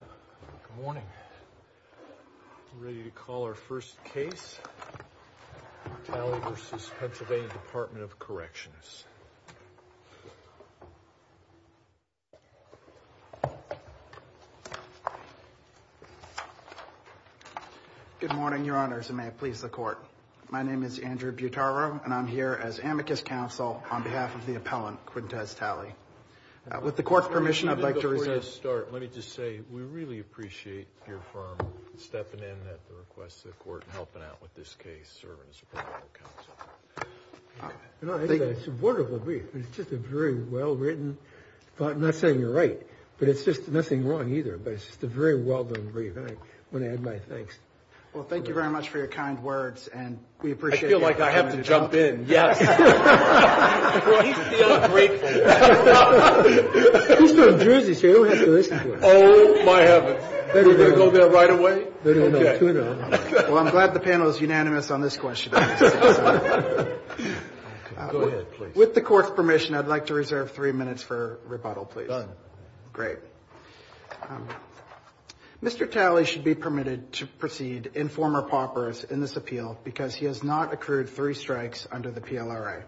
Good morning. We're ready to call our first case. Talley v. PA.Dept.of Corrections. Good morning, your honors, and may it please the court. My name is Andrew Butaro, and I'm here as amicus counsel on behalf of the appellant, Quintez Talley. With the court's permission, I'd like to resume. Before you start, let me just say we really appreciate your firm stepping in at the request of the court and helping out with this case, serving as appellant counsel. It's a wonderful brief. It's just a very well-written, I'm not saying you're right, but it's just nothing wrong either, but it's just a very well-done brief, and I want to add my thanks. Well, thank you very much for your kind words, and we appreciate it. I feel like I have to jump in. Yes. He feels grateful. He's from Jersey, so he'll have to listen to us. Oh, my heavens. We're going to go there right away? Well, I'm glad the panel is unanimous on this question. With the court's permission, I'd like to reserve three minutes for rebuttal, please. Done. Great. Mr. Talley should be permitted to proceed informer paupers in this appeal because he has not accrued three strikes under the PLRA.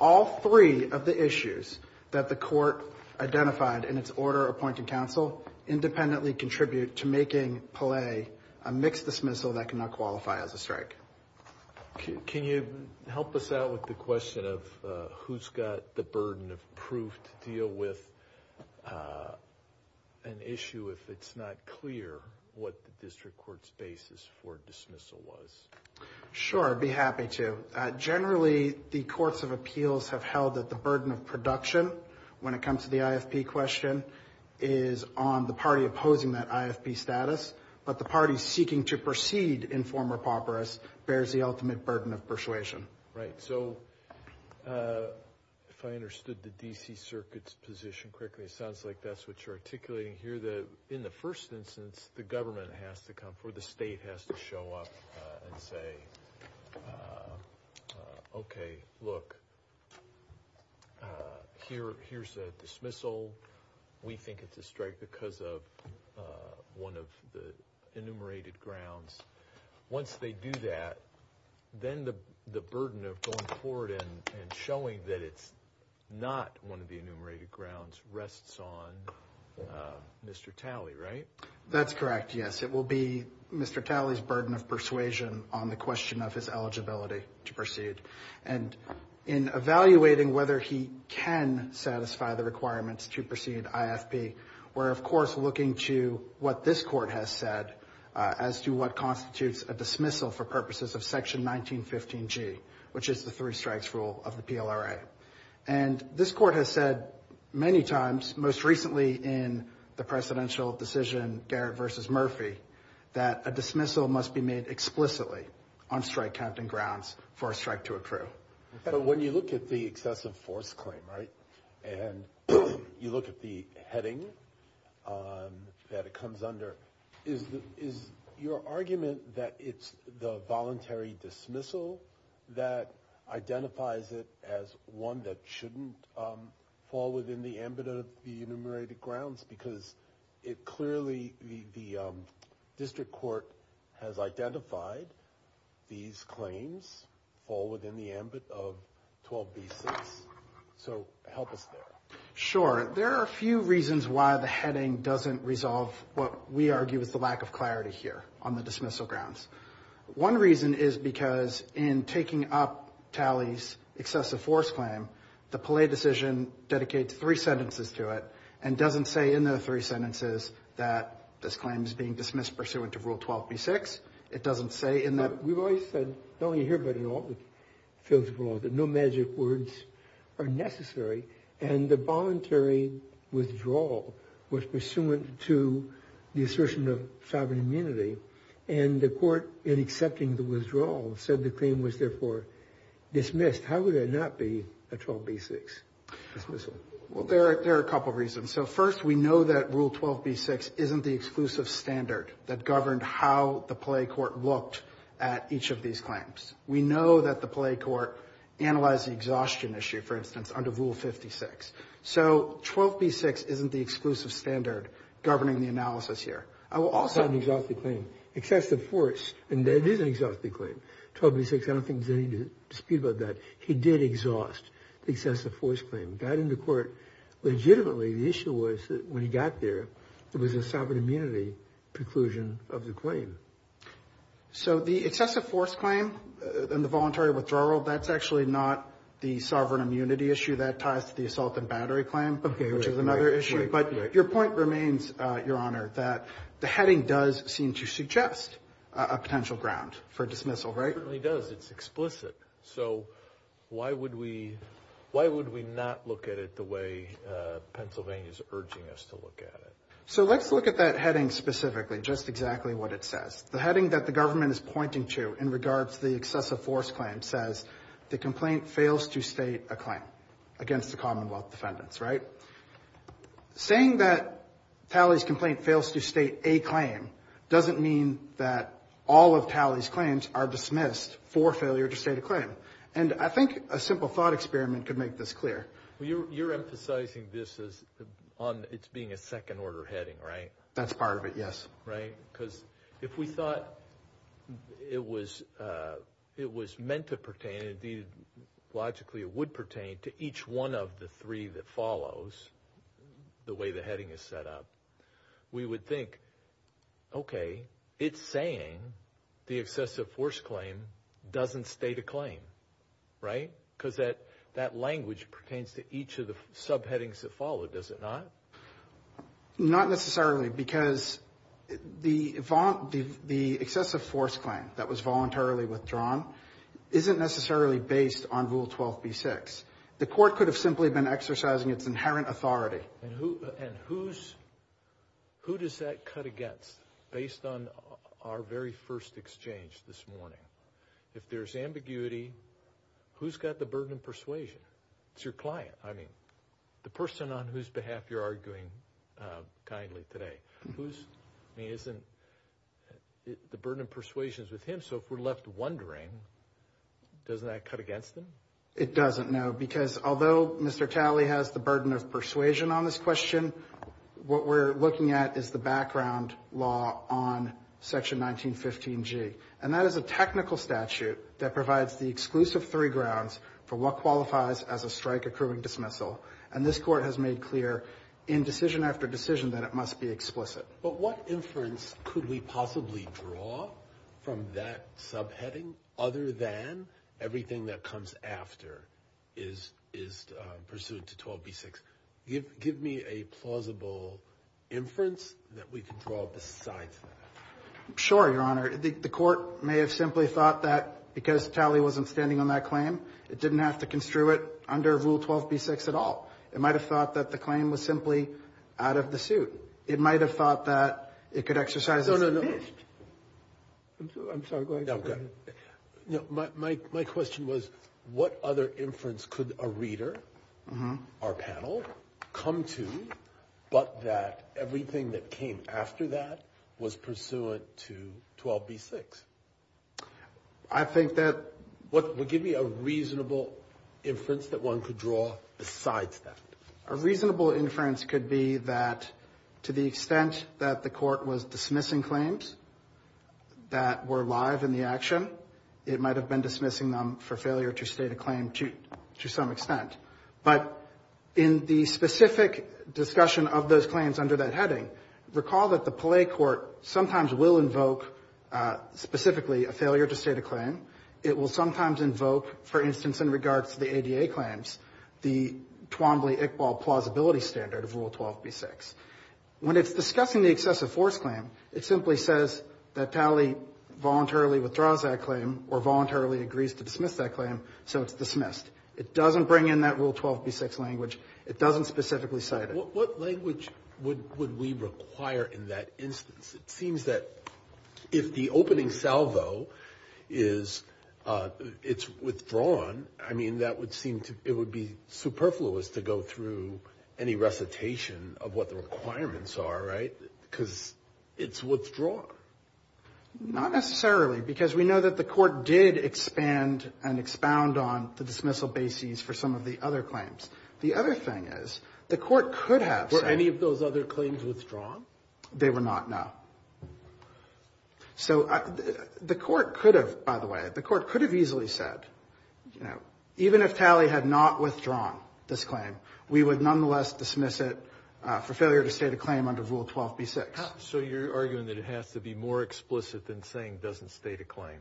All three of the issues that the court identified in its order appointing counsel independently contribute to making Pele a mixed dismissal that cannot qualify as a strike. Can you help us out with the question of who's got the burden of proof to deal with an issue if it's not clear what the district court's basis for dismissal was? Sure, I'd be happy to. Generally, the courts of appeals have held that the burden of production when it comes to the IFP question is on the party opposing that IFP status, but the party seeking to proceed informer paupers bears the ultimate burden of persuasion. Right. So if I understood the D.C. Circuit's position correctly, it sounds like that's what you're articulating here, In the first instance, the government has to come, or the state has to show up and say, Okay, look, here's a dismissal. We think it's a strike because of one of the enumerated grounds. Once they do that, then the burden of going forward and showing that it's not one of the enumerated grounds rests on Mr. Talley, right? That's correct, yes. It will be Mr. Talley's burden of persuasion on the question of his eligibility to proceed. And in evaluating whether he can satisfy the requirements to proceed IFP, we're of course looking to what this court has said as to what constitutes a dismissal for purposes of Section 1915G, which is the three strikes rule of the PLRA. And this court has said many times, most recently in the presidential decision, Garrett v. Murphy, that a dismissal must be made explicitly on strike captain grounds for a strike to accrue. But when you look at the excessive force claim, right, and you look at the heading that it comes under, is your argument that it's the voluntary dismissal that identifies it as one that shouldn't fall within the ambit of the enumerated grounds? Because it clearly, the district court has identified these claims fall within the ambit of 12b-6. So help us there. Sure. There are a few reasons why the heading doesn't resolve what we argue is the lack of clarity here on the dismissal grounds. One reason is because in taking up Talley's excessive force claim, the Palais decision dedicates three sentences to it and doesn't say in the three sentences that this claim is being dismissed pursuant to Rule 12b-6. It doesn't say in that. We've always said, not only here but in all the fields of law, that no magic words are necessary. And the voluntary withdrawal was pursuant to the assertion of sovereign immunity. And the court, in accepting the withdrawal, said the claim was therefore dismissed. How would that not be a 12b-6 dismissal? Well, there are a couple of reasons. So first, we know that Rule 12b-6 isn't the exclusive standard that governed how the Palais court looked at each of these claims. We know that the Palais court analyzed the exhaustion issue, for instance, under Rule 56. So 12b-6 isn't the exclusive standard governing the analysis here. I will also— It's not an exhaustive claim. Excessive force, and that is an exhaustive claim. 12b-6, I don't think there's any dispute about that. He did exhaust the excessive force claim. It got into court. Legitimately, the issue was that when he got there, there was a sovereign immunity preclusion of the claim. So the excessive force claim and the voluntary withdrawal, that's actually not the sovereign immunity issue. That ties to the assault and battery claim, which is another issue. But your point remains, Your Honor, that the heading does seem to suggest a potential ground for dismissal. It certainly does. It's explicit. So why would we not look at it the way Pennsylvania is urging us to look at it? So let's look at that heading specifically, just exactly what it says. The heading that the government is pointing to in regards to the excessive force claim says, the complaint fails to state a claim against the Commonwealth defendants, right? Saying that Talley's complaint fails to state a claim doesn't mean that all of Talley's claims are dismissed for failure to state a claim. And I think a simple thought experiment could make this clear. You're emphasizing this as it's being a second-order heading, right? That's part of it, yes. Because if we thought it was meant to pertain, and logically it would pertain to each one of the three that follows, the way the heading is set up, we would think, okay, it's saying the excessive force claim doesn't state a claim, right? Because that language pertains to each of the subheadings that follow, does it not? Not necessarily, because the excessive force claim that was voluntarily withdrawn isn't necessarily based on Rule 12b-6. The court could have simply been exercising its inherent authority. And who does that cut against based on our very first exchange this morning? If there's ambiguity, who's got the burden of persuasion? It's your client. I mean, the person on whose behalf you're arguing kindly today. I mean, isn't the burden of persuasion with him? So if we're left wondering, doesn't that cut against him? It doesn't, no, because although Mr. Talley has the burden of persuasion on this question, what we're looking at is the background law on Section 1915G. And that is a technical statute that provides the exclusive three grounds for what qualifies as a strike-accruing dismissal. And this court has made clear in decision after decision that it must be explicit. But what inference could we possibly draw from that subheading other than everything that comes after is pursuant to 12b-6? Give me a plausible inference that we can draw besides that. Sure, Your Honor. The court may have simply thought that because Talley wasn't standing on that claim, it didn't have to construe it under Rule 12b-6 at all. It might have thought that the claim was simply out of the suit. It might have thought that it could exercise as it wished. No, no, no. I'm sorry. Go ahead. No, I'm good. My question was, what other inference could a reader, our panel, come to but that everything that came after that was pursuant to 12b-6? I think that... Give me a reasonable inference that one could draw besides that. A reasonable inference could be that to the extent that the court was dismissing claims that were live in the action, it might have been dismissing them for failure to state a claim to some extent. But in the specific discussion of those claims under that heading, recall that the Palais court sometimes will invoke specifically a failure to state a claim. It will sometimes invoke, for instance, in regards to the ADA claims, the Twombly-Iqbal plausibility standard of Rule 12b-6. When it's discussing the excessive force claim, it simply says that Talley voluntarily withdraws that claim or voluntarily agrees to dismiss that claim, so it's dismissed. It doesn't bring in that Rule 12b-6 language. It doesn't specifically cite it. What language would we require in that instance? It seems that if the opening salvo is withdrawn, I mean that would seem to be superfluous to go through any recitation of what the requirements are, right? Because it's withdrawn. Not necessarily because we know that the court did expand and expound on the dismissal basis for some of the other claims. The other thing is the court could have said... Were any of those other claims withdrawn? They were not, no. So the court could have, by the way, the court could have easily said, you know, even if Talley had not withdrawn this claim, we would nonetheless dismiss it for failure to state a claim under Rule 12b-6. So you're arguing that it has to be more explicit than saying doesn't state a claim?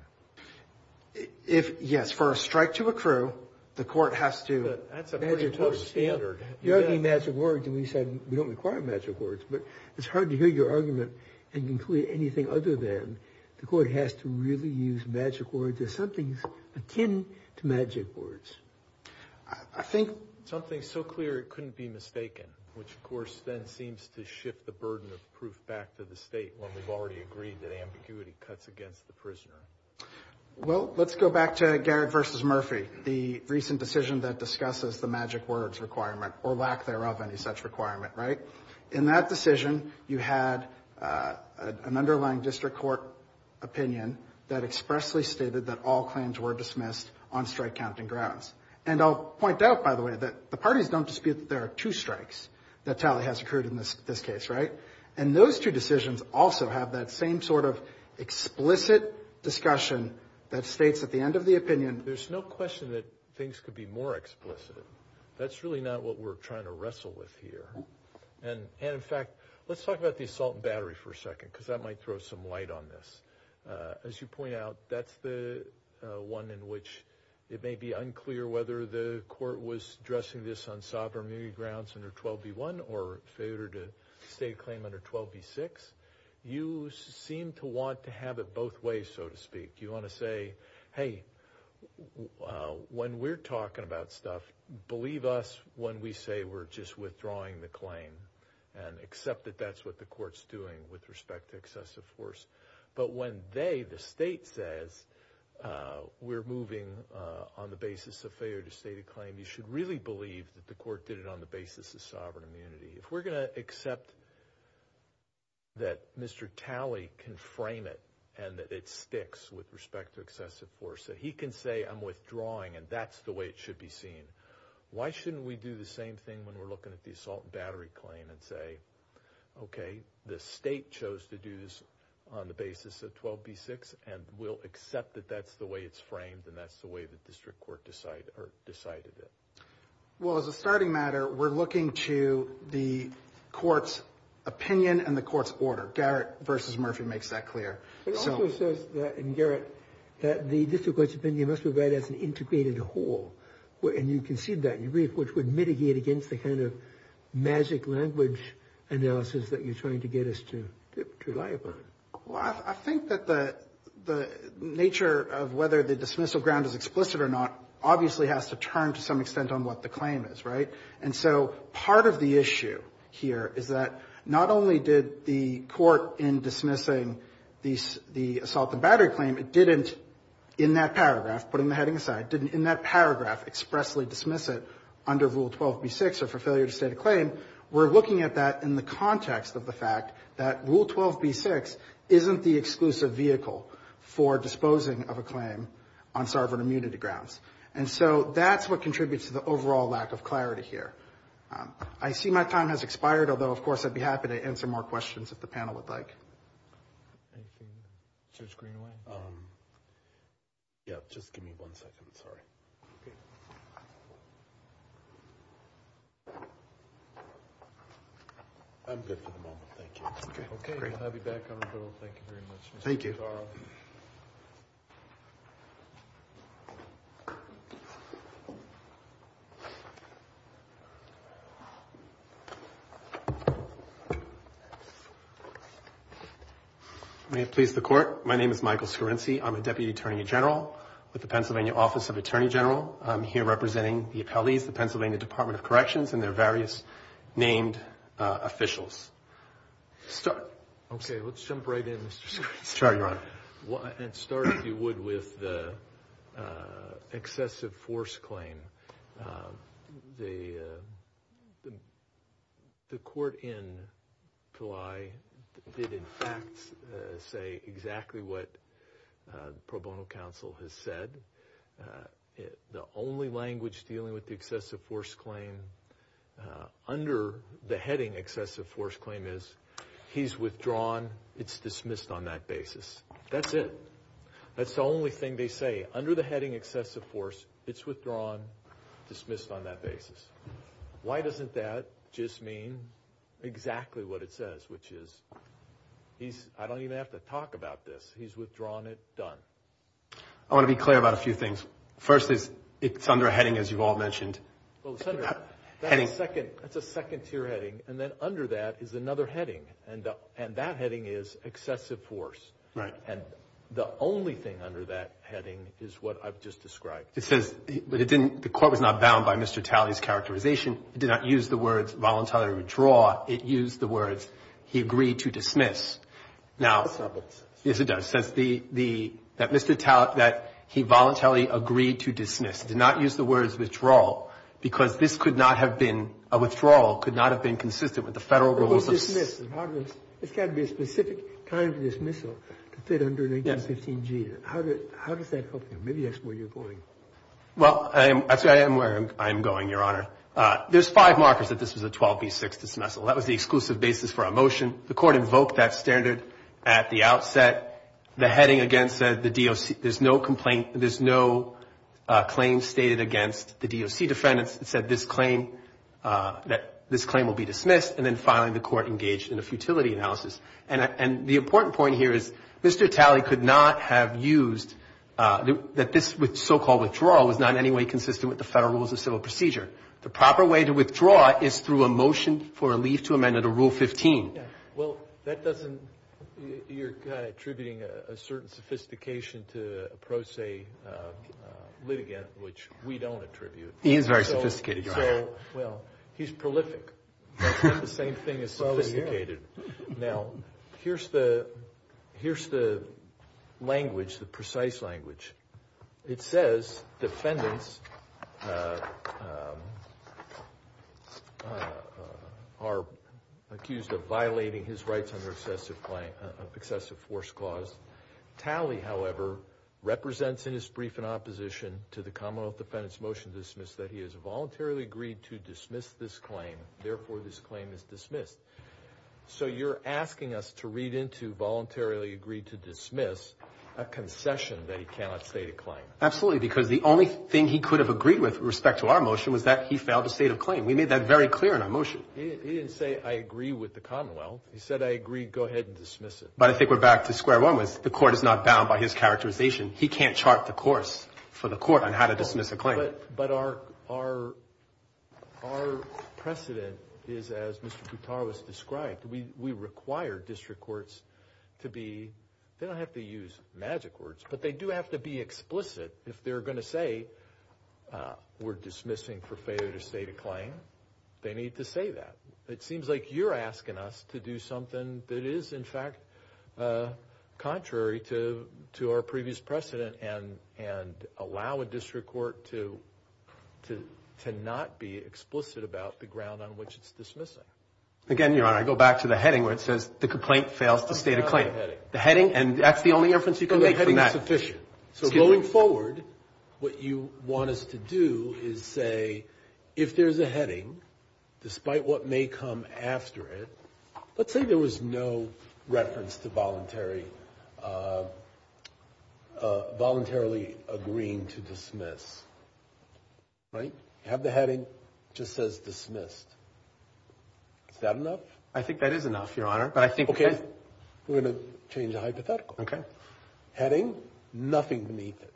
Yes. For a strike to accrue, the court has to... That's a pretty close standard. You're arguing magic words, and we said we don't require magic words, but it's hard to hear your argument and conclude anything other than the court has to really use magic words if something's akin to magic words. I think something so clear it couldn't be mistaken, which, of course, then seems to shift the burden of proof back to the state Well, let's go back to Garrett v. Murphy, the recent decision that discusses the magic words requirement, or lack thereof, any such requirement, right? In that decision, you had an underlying district court opinion that expressly stated that all claims were dismissed on strike-counting grounds. And I'll point out, by the way, that the parties don't dispute that there are two strikes that Talley has accrued in this case, right? And those two decisions also have that same sort of explicit discussion that states at the end of the opinion... There's no question that things could be more explicit. That's really not what we're trying to wrestle with here. And, in fact, let's talk about the assault and battery for a second, because that might throw some light on this. As you point out, that's the one in which it may be unclear whether the court was addressing this on sovereignty grounds under 12b-1 or failure to state a claim under 12b-6. You seem to want to have it both ways, so to speak. You want to say, hey, when we're talking about stuff, believe us when we say we're just withdrawing the claim and accept that that's what the court's doing with respect to excessive force. But when they, the state, says we're moving on the basis of failure to state a claim, you should really believe that the court did it on the basis of sovereign immunity. If we're going to accept that Mr. Talley can frame it and that it sticks with respect to excessive force, that he can say I'm withdrawing and that's the way it should be seen, why shouldn't we do the same thing when we're looking at the assault and battery claim and say, okay, the state chose to do this on the basis of 12b-6 and we'll accept that that's the way it's framed and that's the way the district court decided it. Well, as a starting matter, we're looking to the court's opinion and the court's order. Garrett v. Murphy makes that clear. It also says in Garrett that the district court's opinion must be read as an integrated whole. And you concede that in your brief, which would mitigate against the kind of magic language analysis that you're trying to get us to rely upon. Well, I think that the nature of whether the dismissal ground is explicit or not obviously has to turn to some extent on what the claim is, right? And so part of the issue here is that not only did the court in dismissing the assault and battery claim, it didn't in that paragraph, putting the heading aside, didn't in that paragraph expressly dismiss it under Rule 12b-6 or for failure to state a claim. We're looking at that in the context of the fact that Rule 12b-6 isn't the exclusive vehicle for disposing of a claim on sovereign immunity grounds. And so that's what contributes to the overall lack of clarity here. I see my time has expired, although, of course, I'd be happy to answer more questions if the panel would like. Thank you. Judge Greenway. Yeah. Just give me one second. Sorry. I'm good for the moment. Thank you. OK. I'll be back. Thank you very much. Thank you. May it please the Court. My name is Michael Scorinci. I'm a Deputy Attorney General with the Pennsylvania Office of Attorney General. I'm here representing the appellees, the Pennsylvania Department of Corrections, and their various named officials. Start. OK. Let's jump right in, Mr. Scorinci. Sure, Your Honor. And start, if you would, with the excessive force claim. The court in Pillai did, in fact, say exactly what the pro bono counsel has said. The only language dealing with the excessive force claim under the heading excessive force claim is he's withdrawn, it's dismissed on that basis. That's it. That's the only thing they say. Under the heading excessive force, it's withdrawn, dismissed on that basis. Why doesn't that just mean exactly what it says, which is I don't even have to talk about this. He's withdrawn it. Done. I want to be clear about a few things. First is it's under a heading, as you've all mentioned. Well, Senator, that's a second-tier heading. And then under that is another heading, and that heading is excessive force. Right. And the only thing under that heading is what I've just described. It says the court was not bound by Mr. Talley's characterization. It did not use the words voluntarily withdraw. It used the words he agreed to dismiss. Now, yes, it does. It says that Mr. Talley, that he voluntarily agreed to dismiss. It did not use the words withdraw because this could not have been a withdrawal, could not have been consistent with the Federal rules of ---- It was dismissed. It's got to be a specific kind of dismissal to fit under an 1815G. Yes. How does that help you? Maybe that's where you're going. Well, actually, I am where I'm going, Your Honor. There's five markers that this was a 12B6 dismissal. That was the exclusive basis for our motion. The court invoked that standard at the outset. The heading again said the DOC, there's no complaint, there's no claim stated against the DOC defendants. It said this claim, that this claim will be dismissed, and then finally the court engaged in a futility analysis. And the important point here is Mr. Talley could not have used, that this so-called withdrawal was not in any way consistent with the Federal rules of civil procedure. The proper way to withdraw is through a motion for a leave to amend under Rule 15. Well, that doesn't, you're kind of attributing a certain sophistication to a pro se litigant, which we don't attribute. He is very sophisticated, Your Honor. Well, he's prolific. That's not the same thing as sophisticated. Now, here's the language, the precise language. It says defendants are accused of violating his rights under excessive force clause. Talley, however, represents in his brief in opposition to the Commonwealth defendants' motion to dismiss that he has voluntarily agreed to dismiss this claim. Therefore, this claim is dismissed. So you're asking us to read into voluntarily agreed to dismiss a concession that he cannot state a claim. Absolutely, because the only thing he could have agreed with respect to our motion was that he failed to state a claim. We made that very clear in our motion. He didn't say, I agree with the Commonwealth. He said, I agree, go ahead and dismiss it. But I think we're back to square one with the court is not bound by his characterization. He can't chart the course for the court on how to dismiss a claim. But our precedent is, as Mr. Boutar was described, we require district courts to be, they don't have to use magic words, but they do have to be explicit. If they're going to say we're dismissing for failure to state a claim, they need to say that. It seems like you're asking us to do something that is, in fact, contrary to our previous precedent and allow a district court to not be explicit about the ground on which it's dismissing. Again, Your Honor, I go back to the heading where it says the complaint fails to state a claim. The heading, and that's the only inference you can make from that. The heading is sufficient. So going forward, what you want us to do is say, if there's a heading, despite what may come after it, let's say there was no reference to voluntarily agreeing to dismiss, right? You have the heading that just says dismissed. Is that enough? I think that is enough, Your Honor. Okay. We're going to change the hypothetical. Okay. Heading, nothing beneath it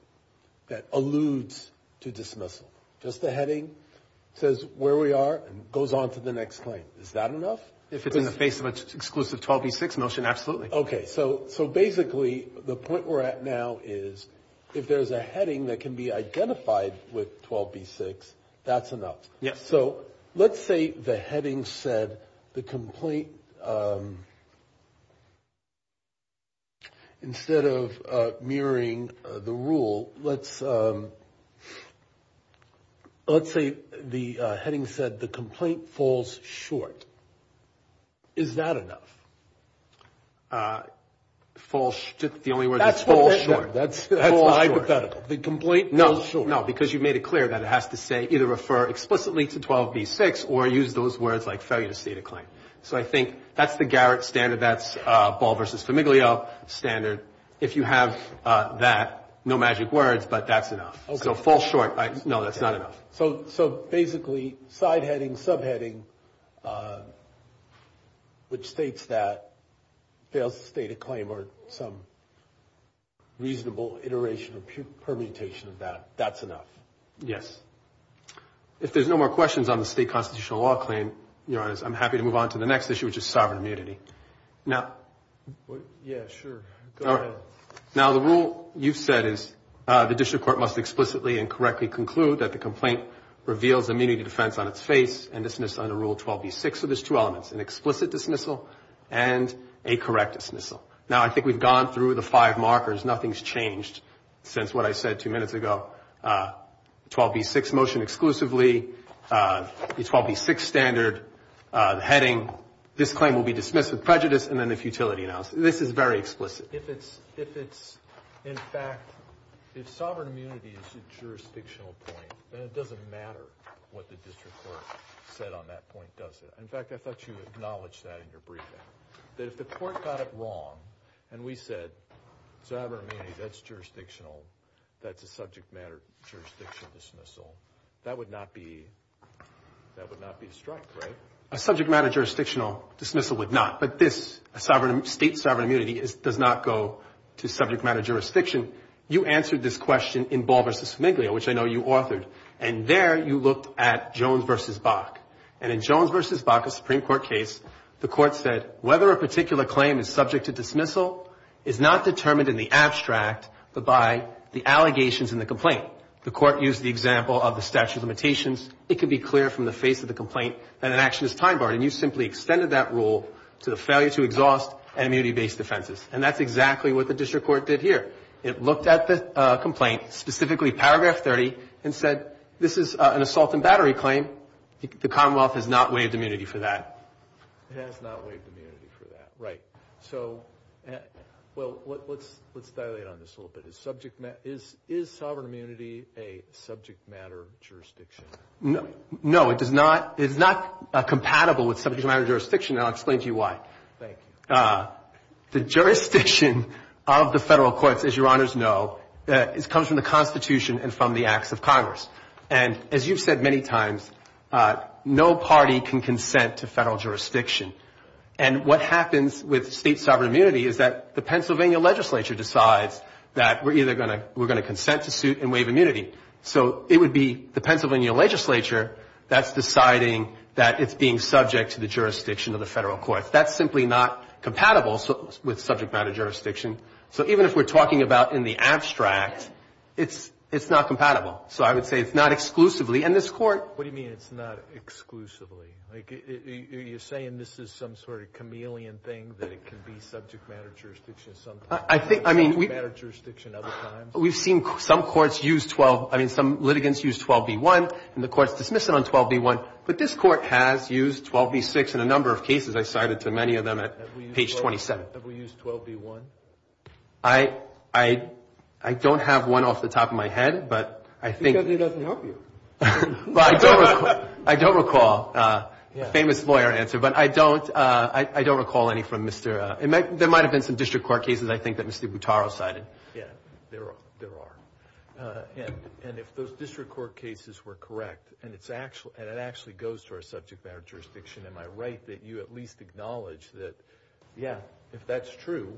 that alludes to dismissal. Just the heading says where we are and goes on to the next claim. Is that enough? If it's in the face of an exclusive 12B6 motion, absolutely. Okay. So basically the point we're at now is if there's a heading that can be identified with 12B6, that's enough. Yes. So let's say the heading said the complaint, instead of mirroring the rule, let's say the heading said the complaint falls short. Is that enough? The only word is falls short. That's hypothetical. The complaint falls short. No, because you've made it clear that it has to say, either refer explicitly to 12B6 or use those words like failure to state a claim. So I think that's the Garrett standard. That's Ball v. Famiglio standard. If you have that, no magic words, but that's enough. Okay. So falls short. No, that's not enough. So basically side heading, subheading, which states that fails to state a claim or some reasonable iteration or permutation of that, that's enough. Yes. If there's no more questions on the state constitutional law claim, Your Honor, I'm happy to move on to the next issue, which is sovereign immunity. Yeah, sure. Go ahead. Now, the rule you've said is the district court must explicitly and correctly conclude that the complaint reveals immunity defense on its face and dismiss under Rule 12B6. So there's two elements, an explicit dismissal and a correct dismissal. Now, I think we've gone through the five markers. Nothing's changed since what I said two minutes ago. 12B6 motion exclusively, the 12B6 standard, the heading, this claim will be dismissed with prejudice and then a futility analysis. This is very explicit. If it's, in fact, if sovereign immunity is a jurisdictional point, then it doesn't matter what the district court said on that point, does it? In fact, I thought you acknowledged that in your briefing, that if the court got it wrong and we said sovereign immunity, that's jurisdictional, that's a subject matter jurisdiction dismissal, that would not be struck, right? A subject matter jurisdictional dismissal would not. But this, state sovereign immunity, does not go to subject matter jurisdiction. You answered this question in Ball v. Fumiglia, which I know you authored, and there you looked at Jones v. Bach. And in Jones v. Bach, a Supreme Court case, the court said, whether a particular claim is subject to dismissal is not determined in the abstract but by the allegations in the complaint. The court used the example of the statute of limitations. It could be clear from the face of the complaint that an action is time barred, and you simply extended that rule to the failure to exhaust and immunity-based defenses. And that's exactly what the district court did here. It looked at the complaint, specifically Paragraph 30, and said, this is an assault and battery claim. The Commonwealth has not waived immunity for that. It has not waived immunity for that, right. So, well, let's dilate on this a little bit. Is sovereign immunity a subject matter jurisdiction? No, it does not. It is not compatible with subject matter jurisdiction, and I'll explain to you why. Thank you. The jurisdiction of the federal courts, as your honors know, comes from the Constitution and from the acts of Congress. And as you've said many times, no party can consent to federal jurisdiction. And what happens with state sovereign immunity is that the Pennsylvania legislature decides that we're either going to consent to suit and waive immunity. So it would be the Pennsylvania legislature that's deciding that it's being subject to the jurisdiction of the federal courts. That's simply not compatible with subject matter jurisdiction. So even if we're talking about in the abstract, it's not compatible. So I would say it's not exclusively. And this court — What do you mean it's not exclusively? Like, are you saying this is some sort of chameleon thing, that it can be subject matter jurisdiction sometimes and subject matter jurisdiction other times? We've seen some courts use 12 — I mean, some litigants use 12b-1, and the court's dismissing on 12b-1. But this court has used 12b-6 in a number of cases. I cited to many of them at page 27. Have we used 12b-1? I don't have one off the top of my head, but I think — Because it doesn't help you. I don't recall a famous lawyer answer, but I don't recall any from Mr. — There might have been some district court cases, I think, that Mr. Butaro cited. Yeah, there are. And if those district court cases were correct, and it actually goes to our subject matter jurisdiction, am I right that you at least acknowledge that, yeah, if that's true,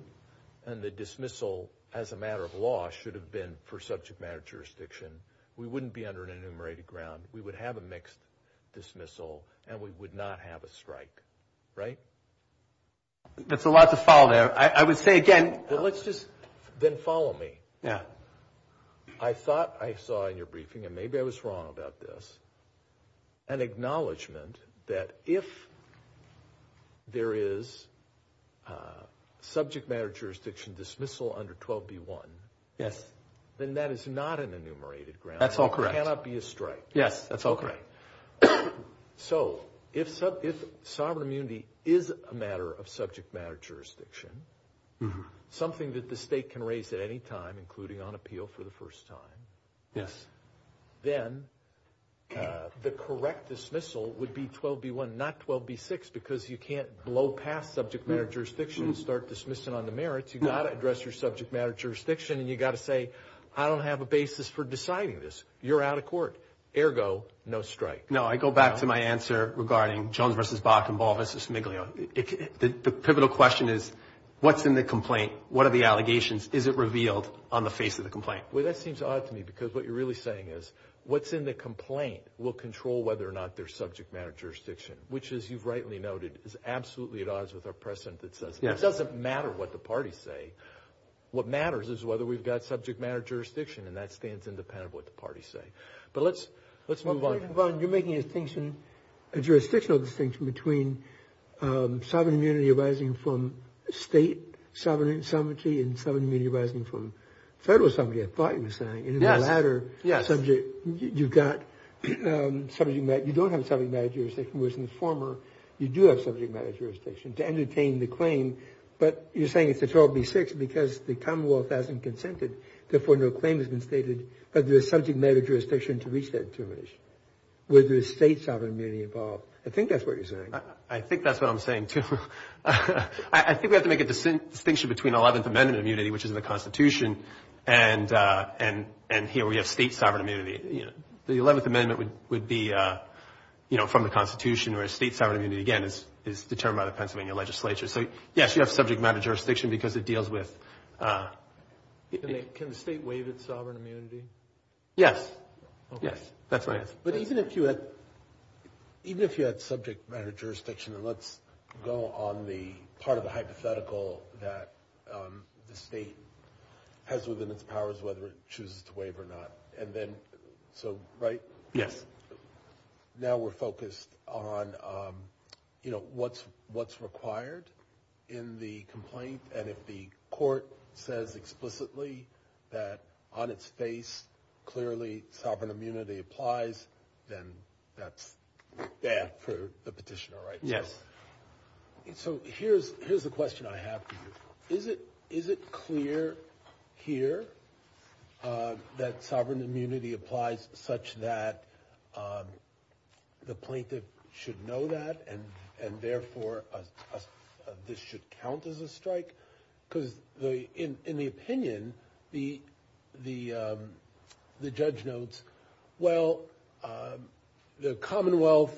and the dismissal as a matter of law should have been for subject matter jurisdiction, we wouldn't be under an enumerated ground. We would have a mixed dismissal, and we would not have a strike, right? That's a lot to follow there. I would say, again — Well, let's just then follow me. Yeah. I thought I saw in your briefing, and maybe I was wrong about this, an acknowledgment that if there is subject matter jurisdiction dismissal under 12b-1, then that is not an enumerated ground. That's all correct. There cannot be a strike. Yes, that's all correct. So if sovereign immunity is a matter of subject matter jurisdiction, something that the state can raise at any time, including on appeal for the first time, then the correct dismissal would be 12b-1, not 12b-6, because you can't blow past subject matter jurisdiction and start dismissing on the merits. You've got to address your subject matter jurisdiction, and you've got to say, I don't have a basis for deciding this. You're out of court. Ergo, no strike. No, I go back to my answer regarding Jones v. Bach and Ball v. Smiglio. The pivotal question is, what's in the complaint? What are the allegations? Is it revealed on the face of the complaint? Well, that seems odd to me, because what you're really saying is, what's in the complaint will control whether or not there's subject matter jurisdiction, which, as you've rightly noted, is absolutely at odds with our precedent that says, it doesn't matter what the parties say. What matters is whether we've got subject matter jurisdiction, and that stands independent of what the parties say. But let's move on. You're making a jurisdictional distinction between sovereign immunity arising from state sovereignty and sovereign immunity arising from federal sovereignty, I thought you were saying. Yes. And in the latter subject, you've got subject matter. You don't have subject matter jurisdiction, whereas in the former, you do have subject matter jurisdiction to entertain the claim, but you're saying it's a 12b-6 because the Commonwealth hasn't consented. Therefore, no claim has been stated, but there's subject matter jurisdiction to reach that determination. Were there state sovereign immunity involved? I think that's what you're saying. I think that's what I'm saying, too. I think we have to make a distinction between Eleventh Amendment immunity, which is in the Constitution, and here we have state sovereign immunity. The Eleventh Amendment would be from the Constitution, whereas state sovereign immunity, again, is determined by the Pennsylvania legislature. So, yes, you have subject matter jurisdiction because it deals with— Can the state waive its sovereign immunity? Yes. Okay. Yes, that's my answer. But even if you had subject matter jurisdiction, and let's go on the part of the hypothetical that the state has within its powers whether it chooses to waive or not, and then, so, right? Yes. Now we're focused on, you know, what's required in the complaint, and if the court says explicitly that on its face clearly sovereign immunity applies, then that's bad for the petitioner, right? Yes. Is it clear here that sovereign immunity applies such that the plaintiff should know that and therefore this should count as a strike? Because in the opinion, the judge notes, well, the Commonwealth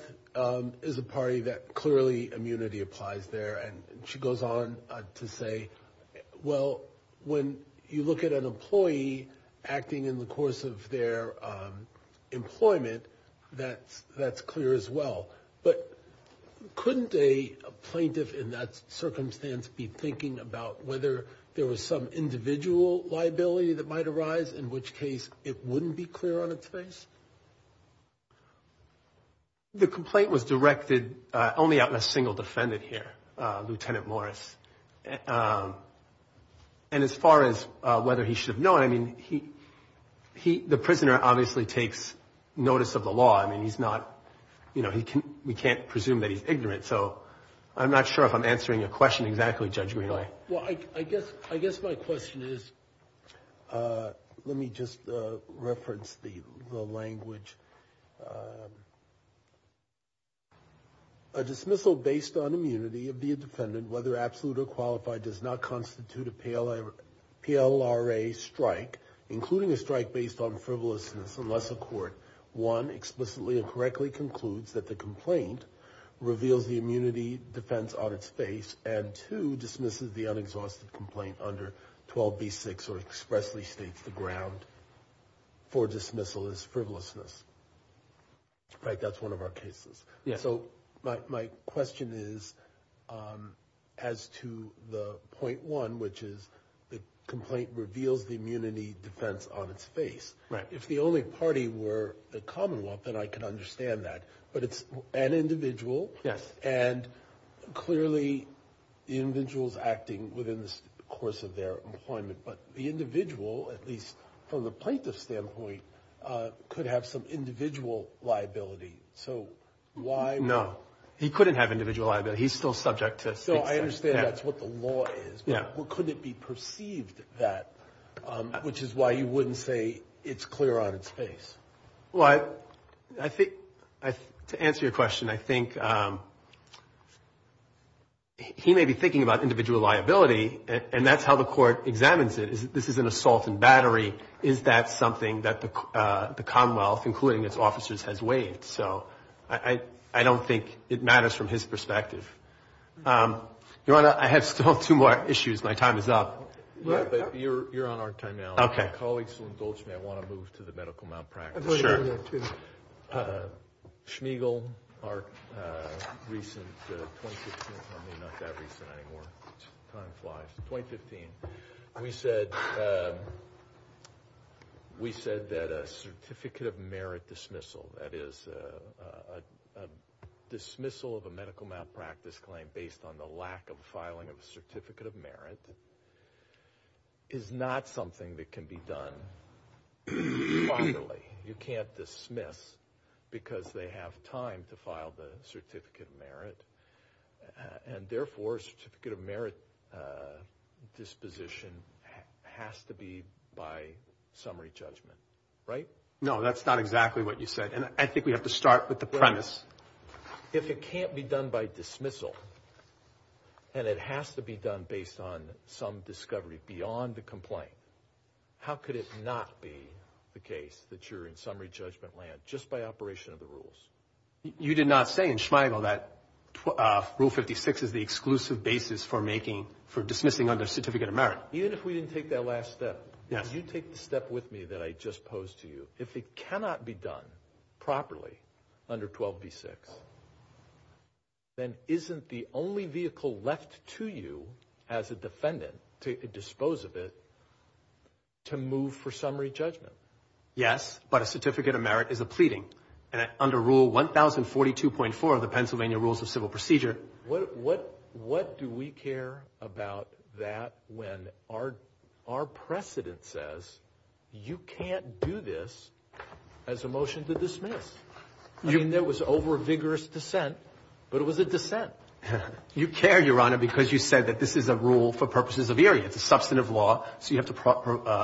is a party that clearly immunity applies there, and she goes on to say, well, when you look at an employee acting in the course of their employment, that's clear as well. But couldn't a plaintiff in that circumstance be thinking about whether there was some individual liability that might arise, in which case it wouldn't be clear on its face? The complaint was directed only on a single defendant here, Lieutenant Morris, and as far as whether he should have known, I mean, the prisoner obviously takes notice of the law. I mean, he's not, you know, we can't presume that he's ignorant, so I'm not sure if I'm answering your question exactly, Judge Greenaway. Well, I guess my question is, let me just reference the language. A dismissal based on immunity of the defendant, whether absolute or qualified, does not constitute a PLRA strike, including a strike based on frivolousness, unless a court, one, explicitly and correctly concludes that the complaint reveals the immunity defense on its face, and two, dismisses the unexhausted complaint under 12b-6 or expressly states the ground for dismissal as frivolousness. Right? That's one of our cases. So my question is, as to the point one, which is the complaint reveals the immunity defense on its face. If the only party were the Commonwealth, then I could understand that. But it's an individual. Yes. And clearly the individual is acting within the course of their employment. But the individual, at least from the plaintiff's standpoint, could have some individual liability. So why? No, he couldn't have individual liability. He's still subject to state statute. So I understand that's what the law is. Yeah. Well, couldn't it be perceived that, which is why you wouldn't say it's clear on its face. Well, to answer your question, I think he may be thinking about individual liability, and that's how the court examines it. This is an assault and battery. Is that something that the Commonwealth, including its officers, has waived? So I don't think it matters from his perspective. Your Honor, I have still two more issues. My time is up. You're on our time now. Okay. If my colleagues will indulge me, I want to move to the medical malpractice. Sure. Schmeigel, our recent 2015 – I mean, not that recent anymore. Time flies. 2015. We said that a certificate of merit dismissal, that is, a dismissal of a medical malpractice claim based on the lack of filing of a certificate of merit, is not something that can be done properly. You can't dismiss because they have time to file the certificate of merit, and therefore a certificate of merit disposition has to be by summary judgment, right? No, that's not exactly what you said, and I think we have to start with the premise. If it can't be done by dismissal and it has to be done based on some discovery beyond the complaint, how could it not be the case that you're in summary judgment land just by operation of the rules? You did not say in Schmeigel that Rule 56 is the exclusive basis for dismissing under certificate of merit. Even if we didn't take that last step, you take the step with me that I just posed to you. If it cannot be done properly under 12b-6, then isn't the only vehicle left to you as a defendant to dispose of it to move for summary judgment? Yes, but a certificate of merit is a pleading, and under Rule 1042.4 of the Pennsylvania Rules of Civil Procedure. What do we care about that when our precedent says you can't do this as a motion to dismiss? I mean, there was over-vigorous dissent, but it was a dissent. You care, Your Honor, because you said that this is a rule for purposes of Erie. It's a substantive law, so you have to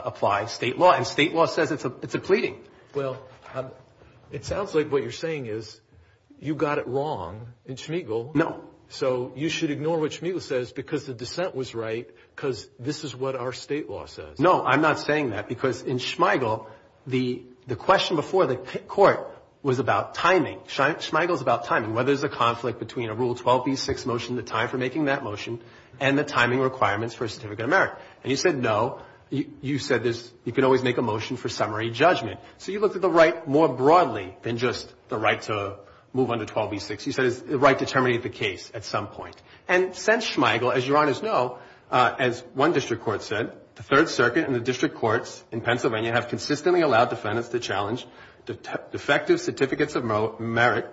apply state law, and state law says it's a pleading. Well, it sounds like what you're saying is you got it wrong in Schmeigel. No. So you should ignore what Schmeigel says because the dissent was right because this is what our state law says. No, I'm not saying that because in Schmeigel, the question before the court was about timing. Schmeigel is about timing, whether there's a conflict between a Rule 12b-6 motion, the time for making that motion, and the timing requirements for a certificate of merit. And you said no. You said you can always make a motion for summary judgment. So you looked at the right more broadly than just the right to move under 12b-6. You said it's the right to terminate the case at some point. And since Schmeigel, as Your Honors know, as one district court said, the Third Circuit and the district courts in Pennsylvania have consistently allowed defendants to challenge defective certificates of merit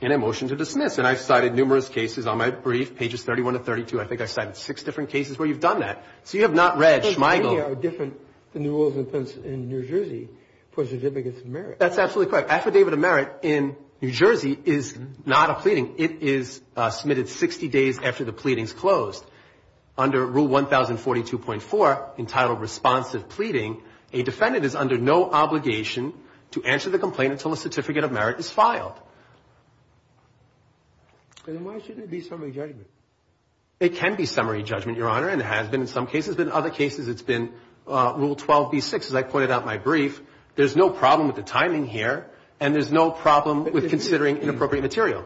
in a motion to dismiss. And I've cited numerous cases on my brief, pages 31 to 32. I think I cited six different cases where you've done that. So you have not read Schmeigel. But they are different than the rules in New Jersey for certificates of merit. That's absolutely correct. Your Honor, affidavit of merit in New Jersey is not a pleading. It is submitted 60 days after the pleading is closed. Under Rule 1042.4, entitled responsive pleading, a defendant is under no obligation to answer the complaint until a certificate of merit is filed. Then why shouldn't it be summary judgment? It can be summary judgment, Your Honor, and it has been in some cases. But in other cases, it's been Rule 12b-6. As I pointed out in my brief, there's no problem with the timing here, and there's no problem with considering inappropriate material.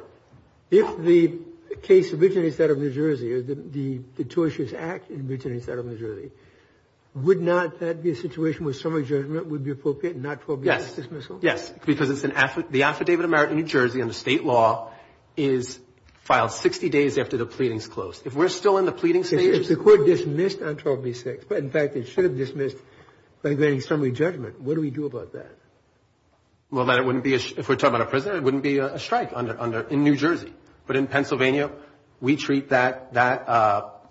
If the case originates out of New Jersey, the tortious act originates out of New Jersey, would not that be a situation where summary judgment would be appropriate and not 12b-6 dismissal? Yes. Because it's an affidavit of merit in New Jersey under State law is filed 60 days after the pleading is closed. If we're still in the pleading stage. If the court dismissed on 12b-6, but in fact it should have dismissed by granting summary judgment, what do we do about that? Well, then it wouldn't be, if we're talking about a prisoner, it wouldn't be a strike in New Jersey. But in Pennsylvania, we treat that,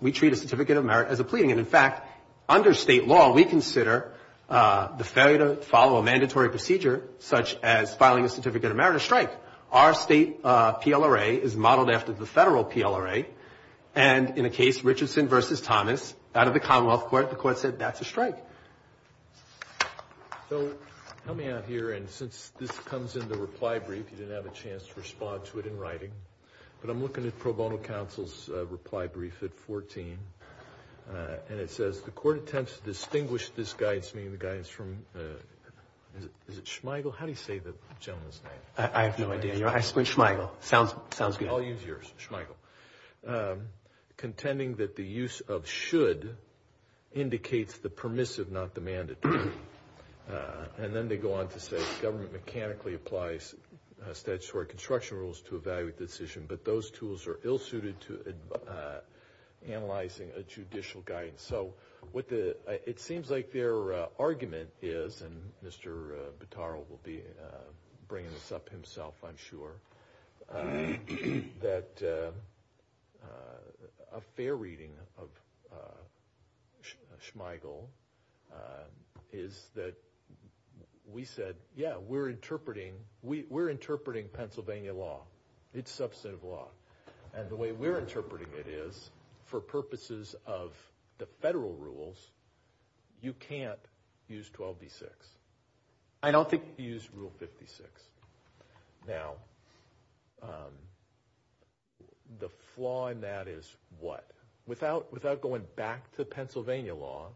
we treat a certificate of merit as a pleading. And in fact, under State law, we consider the failure to follow a mandatory procedure, such as filing a certificate of merit, a strike. Our State PLRA is modeled after the Federal PLRA. And in a case, Richardson v. Thomas, out of the Commonwealth Court, the court said that's a strike. So help me out here. And since this comes in the reply brief, you didn't have a chance to respond to it in writing. But I'm looking at pro bono counsel's reply brief at 14. And it says, the court attempts to distinguish this guidance from, is it Schmeigel? How do you say the gentleman's name? I have no idea. Schmeigel. Sounds good. I'll use yours, Schmeigel. Contending that the use of should indicates the permissive, not the mandatory. And then they go on to say the government mechanically applies statutory construction rules to evaluate the decision. But those tools are ill-suited to analyzing a judicial guidance. So it seems like their argument is, and Mr. Butaro will be bringing this up himself, I'm sure, that a fair reading of Schmeigel is that we said, yeah, we're interpreting Pennsylvania law. It's substantive law. And the way we're interpreting it is, for purposes of the federal rules, you can't use 12b-6. I don't think you use Rule 56. Now, the flaw in that is what? Without going back to Pennsylvania law,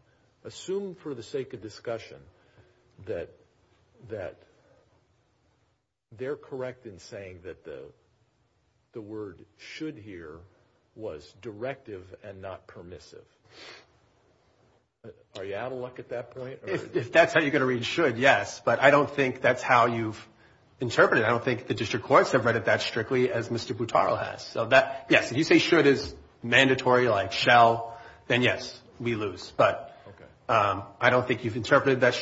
assume for the sake of discussion that they're correct in saying that the word should here was directive and not permissive. Are you out of luck at that point? If that's how you're going to read should, yes. But I don't think that's how you've interpreted it. I don't think the district courts have read it that strictly as Mr. Butaro has. So, yes, if you say should is mandatory, like shall, then, yes, we lose. But I don't think you've interpreted that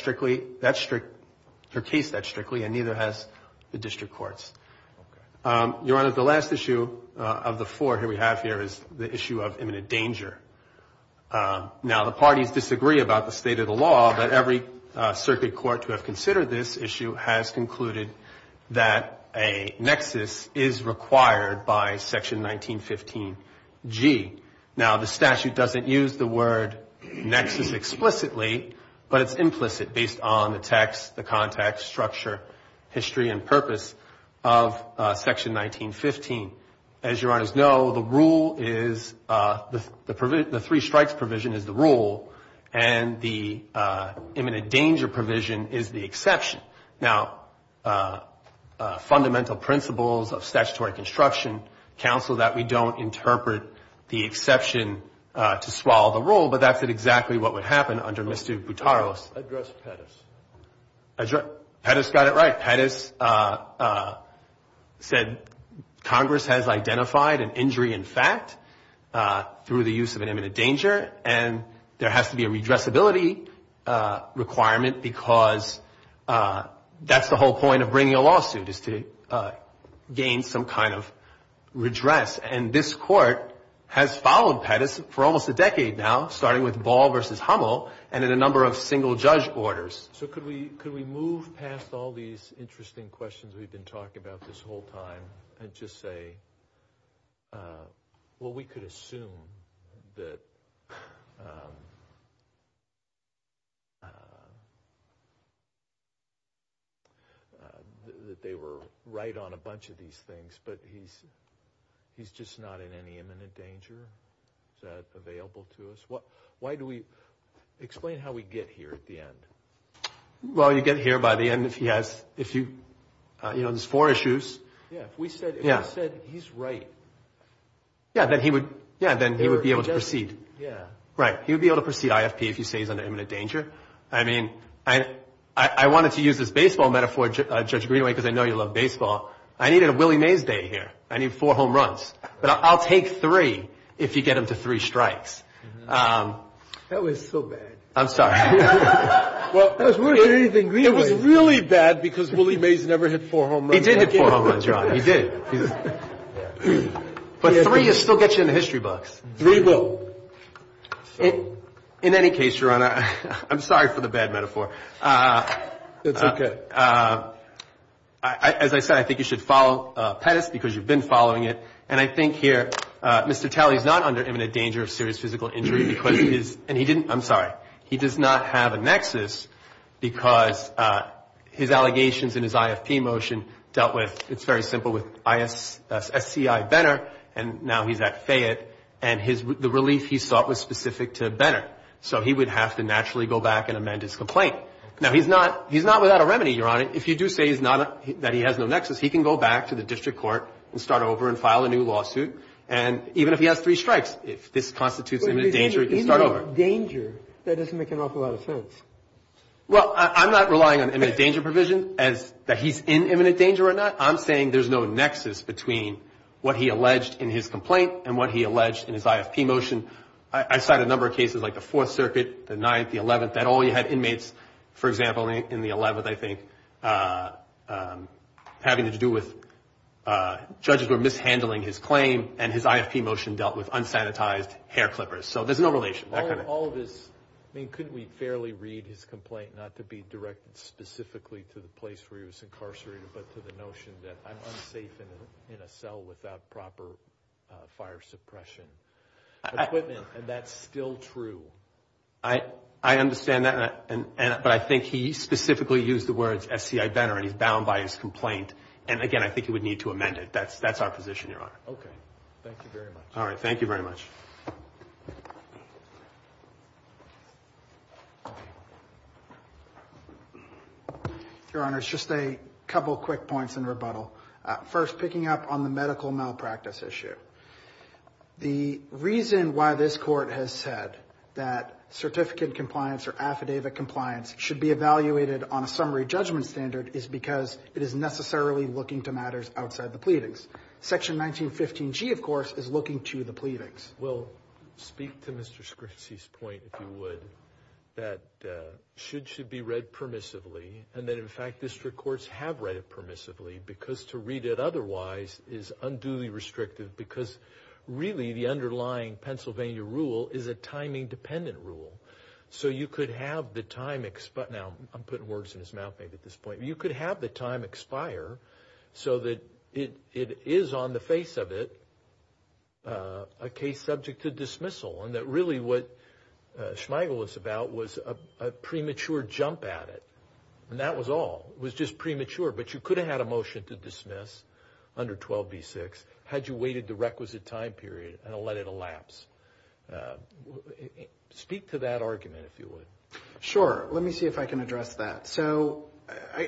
case that strictly, and neither has the district courts. Your Honor, the last issue of the four here we have here is the issue of imminent danger. Now, the parties disagree about the state of the law, but every circuit court to have considered this issue has concluded that a nexus is required by Section 1915G. Now, the statute doesn't use the word nexus explicitly, but it's implicit based on the text, the context, structure, history, and purpose of Section 1915. As your Honors know, the rule is the three strikes provision is the rule, and the imminent danger provision is the exception. Now, fundamental principles of statutory construction counsel that we don't interpret the exception to swallow the rule, but that's exactly what would happen under Mr. Butaro's. Address Pettis. Pettis got it right. Pettis said Congress has identified an injury in fact through the use of an imminent danger, and there has to be a redressability requirement because that's the whole point of bringing a lawsuit, is to gain some kind of redress. And this Court has followed Pettis for almost a decade now, starting with Ball v. Hummel, and in a number of single-judge orders. So could we move past all these interesting questions we've been talking about this whole time and just say, well, we could assume that they were right on a bunch of these things, but he's just not in any imminent danger. Is that available to us? Why do we – explain how we get here at the end. Well, you get here by the end if he has – you know, there's four issues. Yeah. If we said he's right. Yeah, then he would be able to proceed. Yeah. Right. He would be able to proceed IFP if you say he's under imminent danger. I mean, I wanted to use this baseball metaphor, Judge Greenaway, because I know you love baseball. I needed a Willie Mays day here. I need four home runs. But I'll take three if you get him to three strikes. That was so bad. I'm sorry. It was really bad because Willie Mays never hit four home runs. He did hit four home runs, Your Honor. He did. But three will still get you in the history books. Three will. In any case, Your Honor, I'm sorry for the bad metaphor. That's okay. As I said, I think you should follow Pettis because you've been following it. And I think here Mr. Talley is not under imminent danger of serious physical injury because he is – dealt with, it's very simple, with SCI Benner, and now he's at Fayette. And the relief he sought was specific to Benner. So he would have to naturally go back and amend his complaint. Now, he's not without a remedy, Your Honor. If you do say that he has no nexus, he can go back to the district court and start over and file a new lawsuit. And even if he has three strikes, if this constitutes imminent danger, he can start over. But if he's in imminent danger, that doesn't make an awful lot of sense. Well, I'm not relying on imminent danger provision that he's in imminent danger or not. I'm saying there's no nexus between what he alleged in his complaint and what he alleged in his IFP motion. I cite a number of cases like the Fourth Circuit, the Ninth, the Eleventh, that all you had inmates, for example, in the Eleventh, I think, having to do with judges were mishandling his claim, and his IFP motion dealt with unsanitized hair clippers. So there's no relation. All of his, I mean, couldn't we fairly read his complaint not to be directed specifically to the place where he was incarcerated, but to the notion that I'm unsafe in a cell without proper fire suppression equipment, and that's still true? I understand that, but I think he specifically used the words S.C.I. Benner, and he's bound by his complaint. And, again, I think he would need to amend it. That's our position, Your Honor. Okay. Thank you very much. All right. Thank you very much. Your Honor, just a couple quick points in rebuttal. First, picking up on the medical malpractice issue. The reason why this Court has said that certificate compliance or affidavit compliance should be evaluated on a summary judgment standard is because it is necessarily looking to matters outside the pleadings. Section 1915G, of course, is looking to the pleadings. Well, speak to Mr. Scrincy's point, if you would, that should should be read permissively, and that, in fact, district courts have read it permissively because to read it otherwise is unduly restrictive because really the underlying Pennsylvania rule is a timing-dependent rule. So you could have the time, now I'm putting words in his mouth maybe at this point, you could have the time expire so that it is on the face of it a case subject to dismissal and that really what Schmeigel was about was a premature jump at it. And that was all. It was just premature, but you could have had a motion to dismiss under 12b-6 had you waited the requisite time period and let it elapse. Speak to that argument, if you would. Sure. Let me see if I can address that. So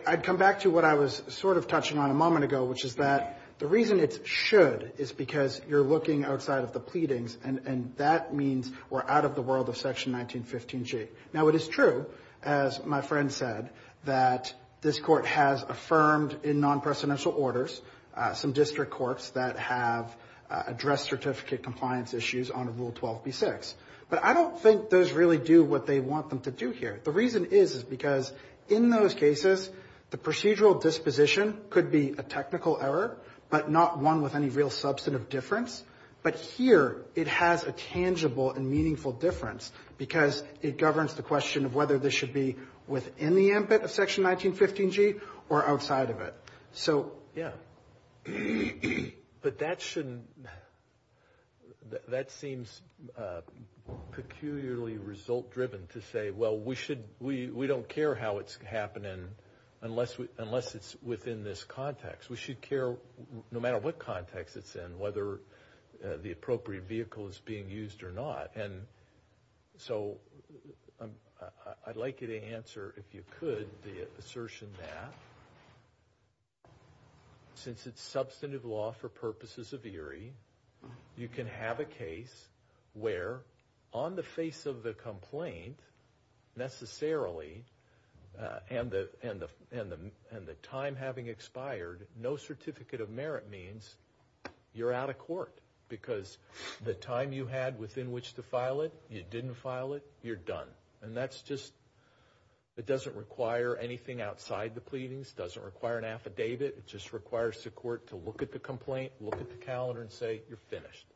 I'd come back to what I was sort of touching on a moment ago, which is that the reason it's should is because you're looking outside of the pleadings, and that means we're out of the world of Section 1915G. Now, it is true, as my friend said, that this Court has affirmed in non-presidential orders some district courts that have addressed certificate compliance issues under Rule 12b-6. But I don't think those really do what they want them to do here. The reason is, is because in those cases the procedural disposition could be a technical error, but not one with any real substantive difference. But here it has a tangible and meaningful difference because it governs the question of whether this should be within the ambit of Section 1915G or outside of it. Yeah. But that shouldn't, that seems peculiarly result-driven to say, well, we don't care how it's happening unless it's within this context. We should care no matter what context it's in, whether the appropriate vehicle is being used or not. And so I'd like you to answer, if you could, the assertion that since it's substantive law for purposes of eerie, you can have a case where, on the face of the complaint, necessarily, and the time having expired, no certificate of merit means you're out of court because the time you had within which to file it, you didn't file it, you're done. And that's just, it doesn't require anything outside the pleadings, doesn't require an affidavit. It just requires the court to look at the complaint, look at the calendar and say, you're finished.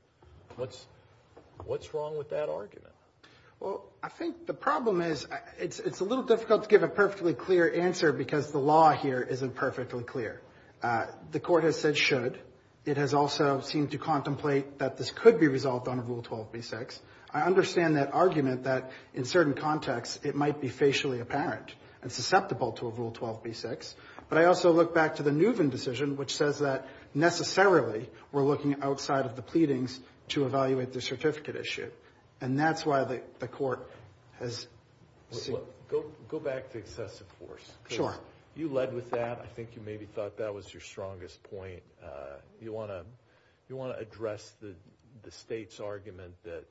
What's wrong with that argument? Well, I think the problem is it's a little difficult to give a perfectly clear answer because the law here isn't perfectly clear. The court has said should. It has also seemed to contemplate that this could be resolved on a Rule 12b-6. I understand that argument that in certain contexts it might be facially apparent and susceptible to a Rule 12b-6. But I also look back to the Neuven decision, which says that necessarily we're looking outside of the pleadings to evaluate the certificate issue. And that's why the court has seen. Go back to excessive force. Sure. You led with that. I think you maybe thought that was your strongest point. You want to address the state's argument that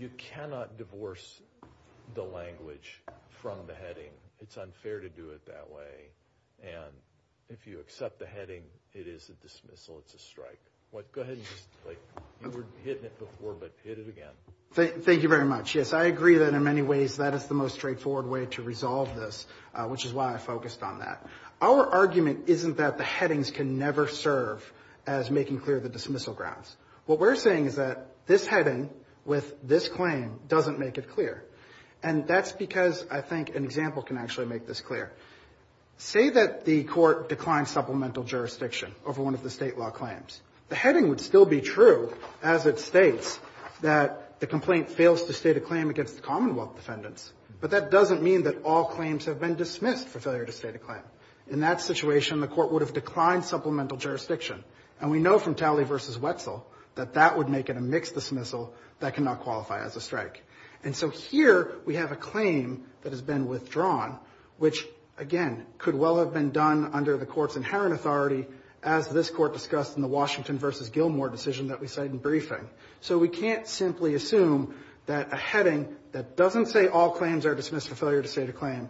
you cannot divorce the language from the heading. It's unfair to do it that way. And if you accept the heading, it is a dismissal. It's a strike. Go ahead. You were hitting it before, but hit it again. Thank you very much. Yes, I agree that in many ways that is the most straightforward way to resolve this, which is why I focused on that. Our argument isn't that the headings can never serve as making clear the dismissal grounds. What we're saying is that this heading with this claim doesn't make it clear. And that's because I think an example can actually make this clear. Say that the court declined supplemental jurisdiction over one of the State law claims. The heading would still be true as it states that the complaint fails to state a claim against the Commonwealth defendants. But that doesn't mean that all claims have been dismissed for failure to state a claim. In that situation, the court would have declined supplemental jurisdiction. And we know from Talley v. Wetzel that that would make it a mixed dismissal that cannot qualify as a strike. And so here we have a claim that has been withdrawn, which, again, could well have been done under the court's inherent authority as this court discussed in the Washington v. Gilmore decision that we cite in briefing. So we can't simply assume that a heading that doesn't say all claims are dismissed for failure to state a claim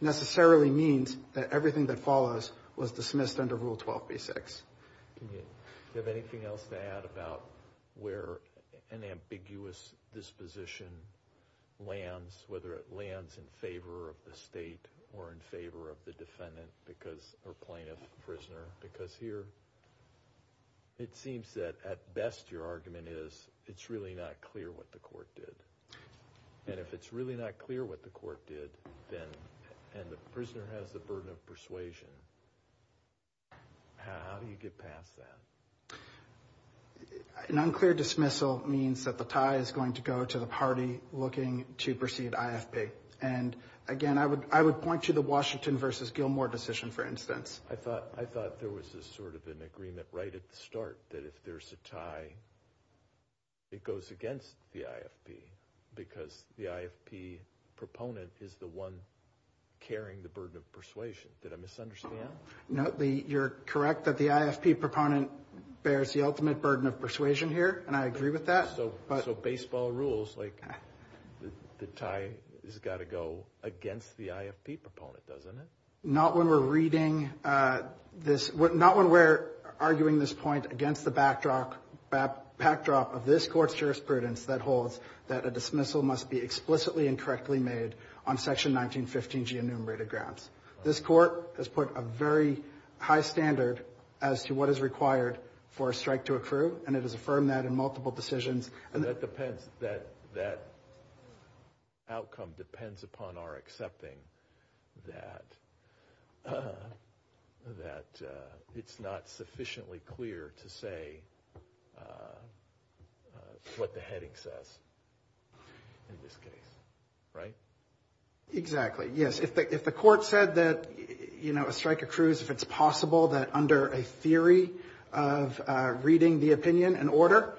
necessarily means that everything that follows was dismissed under Rule 12b-6. Do you have anything else to add about where an ambiguous disposition lands, whether it lands in favor of the State or in favor of the defendant or plaintiff-prisoner? Because here it seems that at best your argument is it's really not clear what the court did. And if it's really not clear what the court did and the prisoner has the burden of persuasion, how do you get past that? An unclear dismissal means that the tie is going to go to the party looking to proceed IFP. And, again, I would point to the Washington v. Gilmore decision, for instance. I thought there was sort of an agreement right at the start that if there's a tie, it goes against the IFP because the IFP proponent is the one carrying the burden of persuasion. Did I misunderstand? No. You're correct that the IFP proponent bears the ultimate burden of persuasion here, and I agree with that. So baseball rules, like the tie has got to go against the IFP proponent, doesn't it? Not when we're reading this. Not when we're arguing this point against the backdrop of this Court's jurisprudence that holds that a dismissal must be explicitly and correctly made on Section 1915G enumerated grounds. This Court has put a very high standard as to what is required for a strike to accrue, and it has affirmed that in multiple decisions. That depends. That outcome depends upon our accepting that it's not sufficiently clear to say what the heading says in this case, right? Exactly, yes. If the Court said that a strike accrues, if it's possible that under a theory of reading the opinion in order,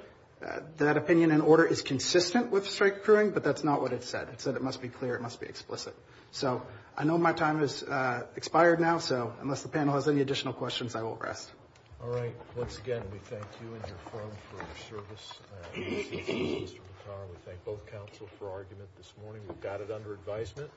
that opinion in order is consistent with strike accruing, but that's not what it said. It said it must be clear. It must be explicit. So I know my time has expired now, so unless the panel has any additional questions, I will rest. All right. Once again, we thank you and your firm for your service. We thank both counsel for argument this morning. We've got it under advisement.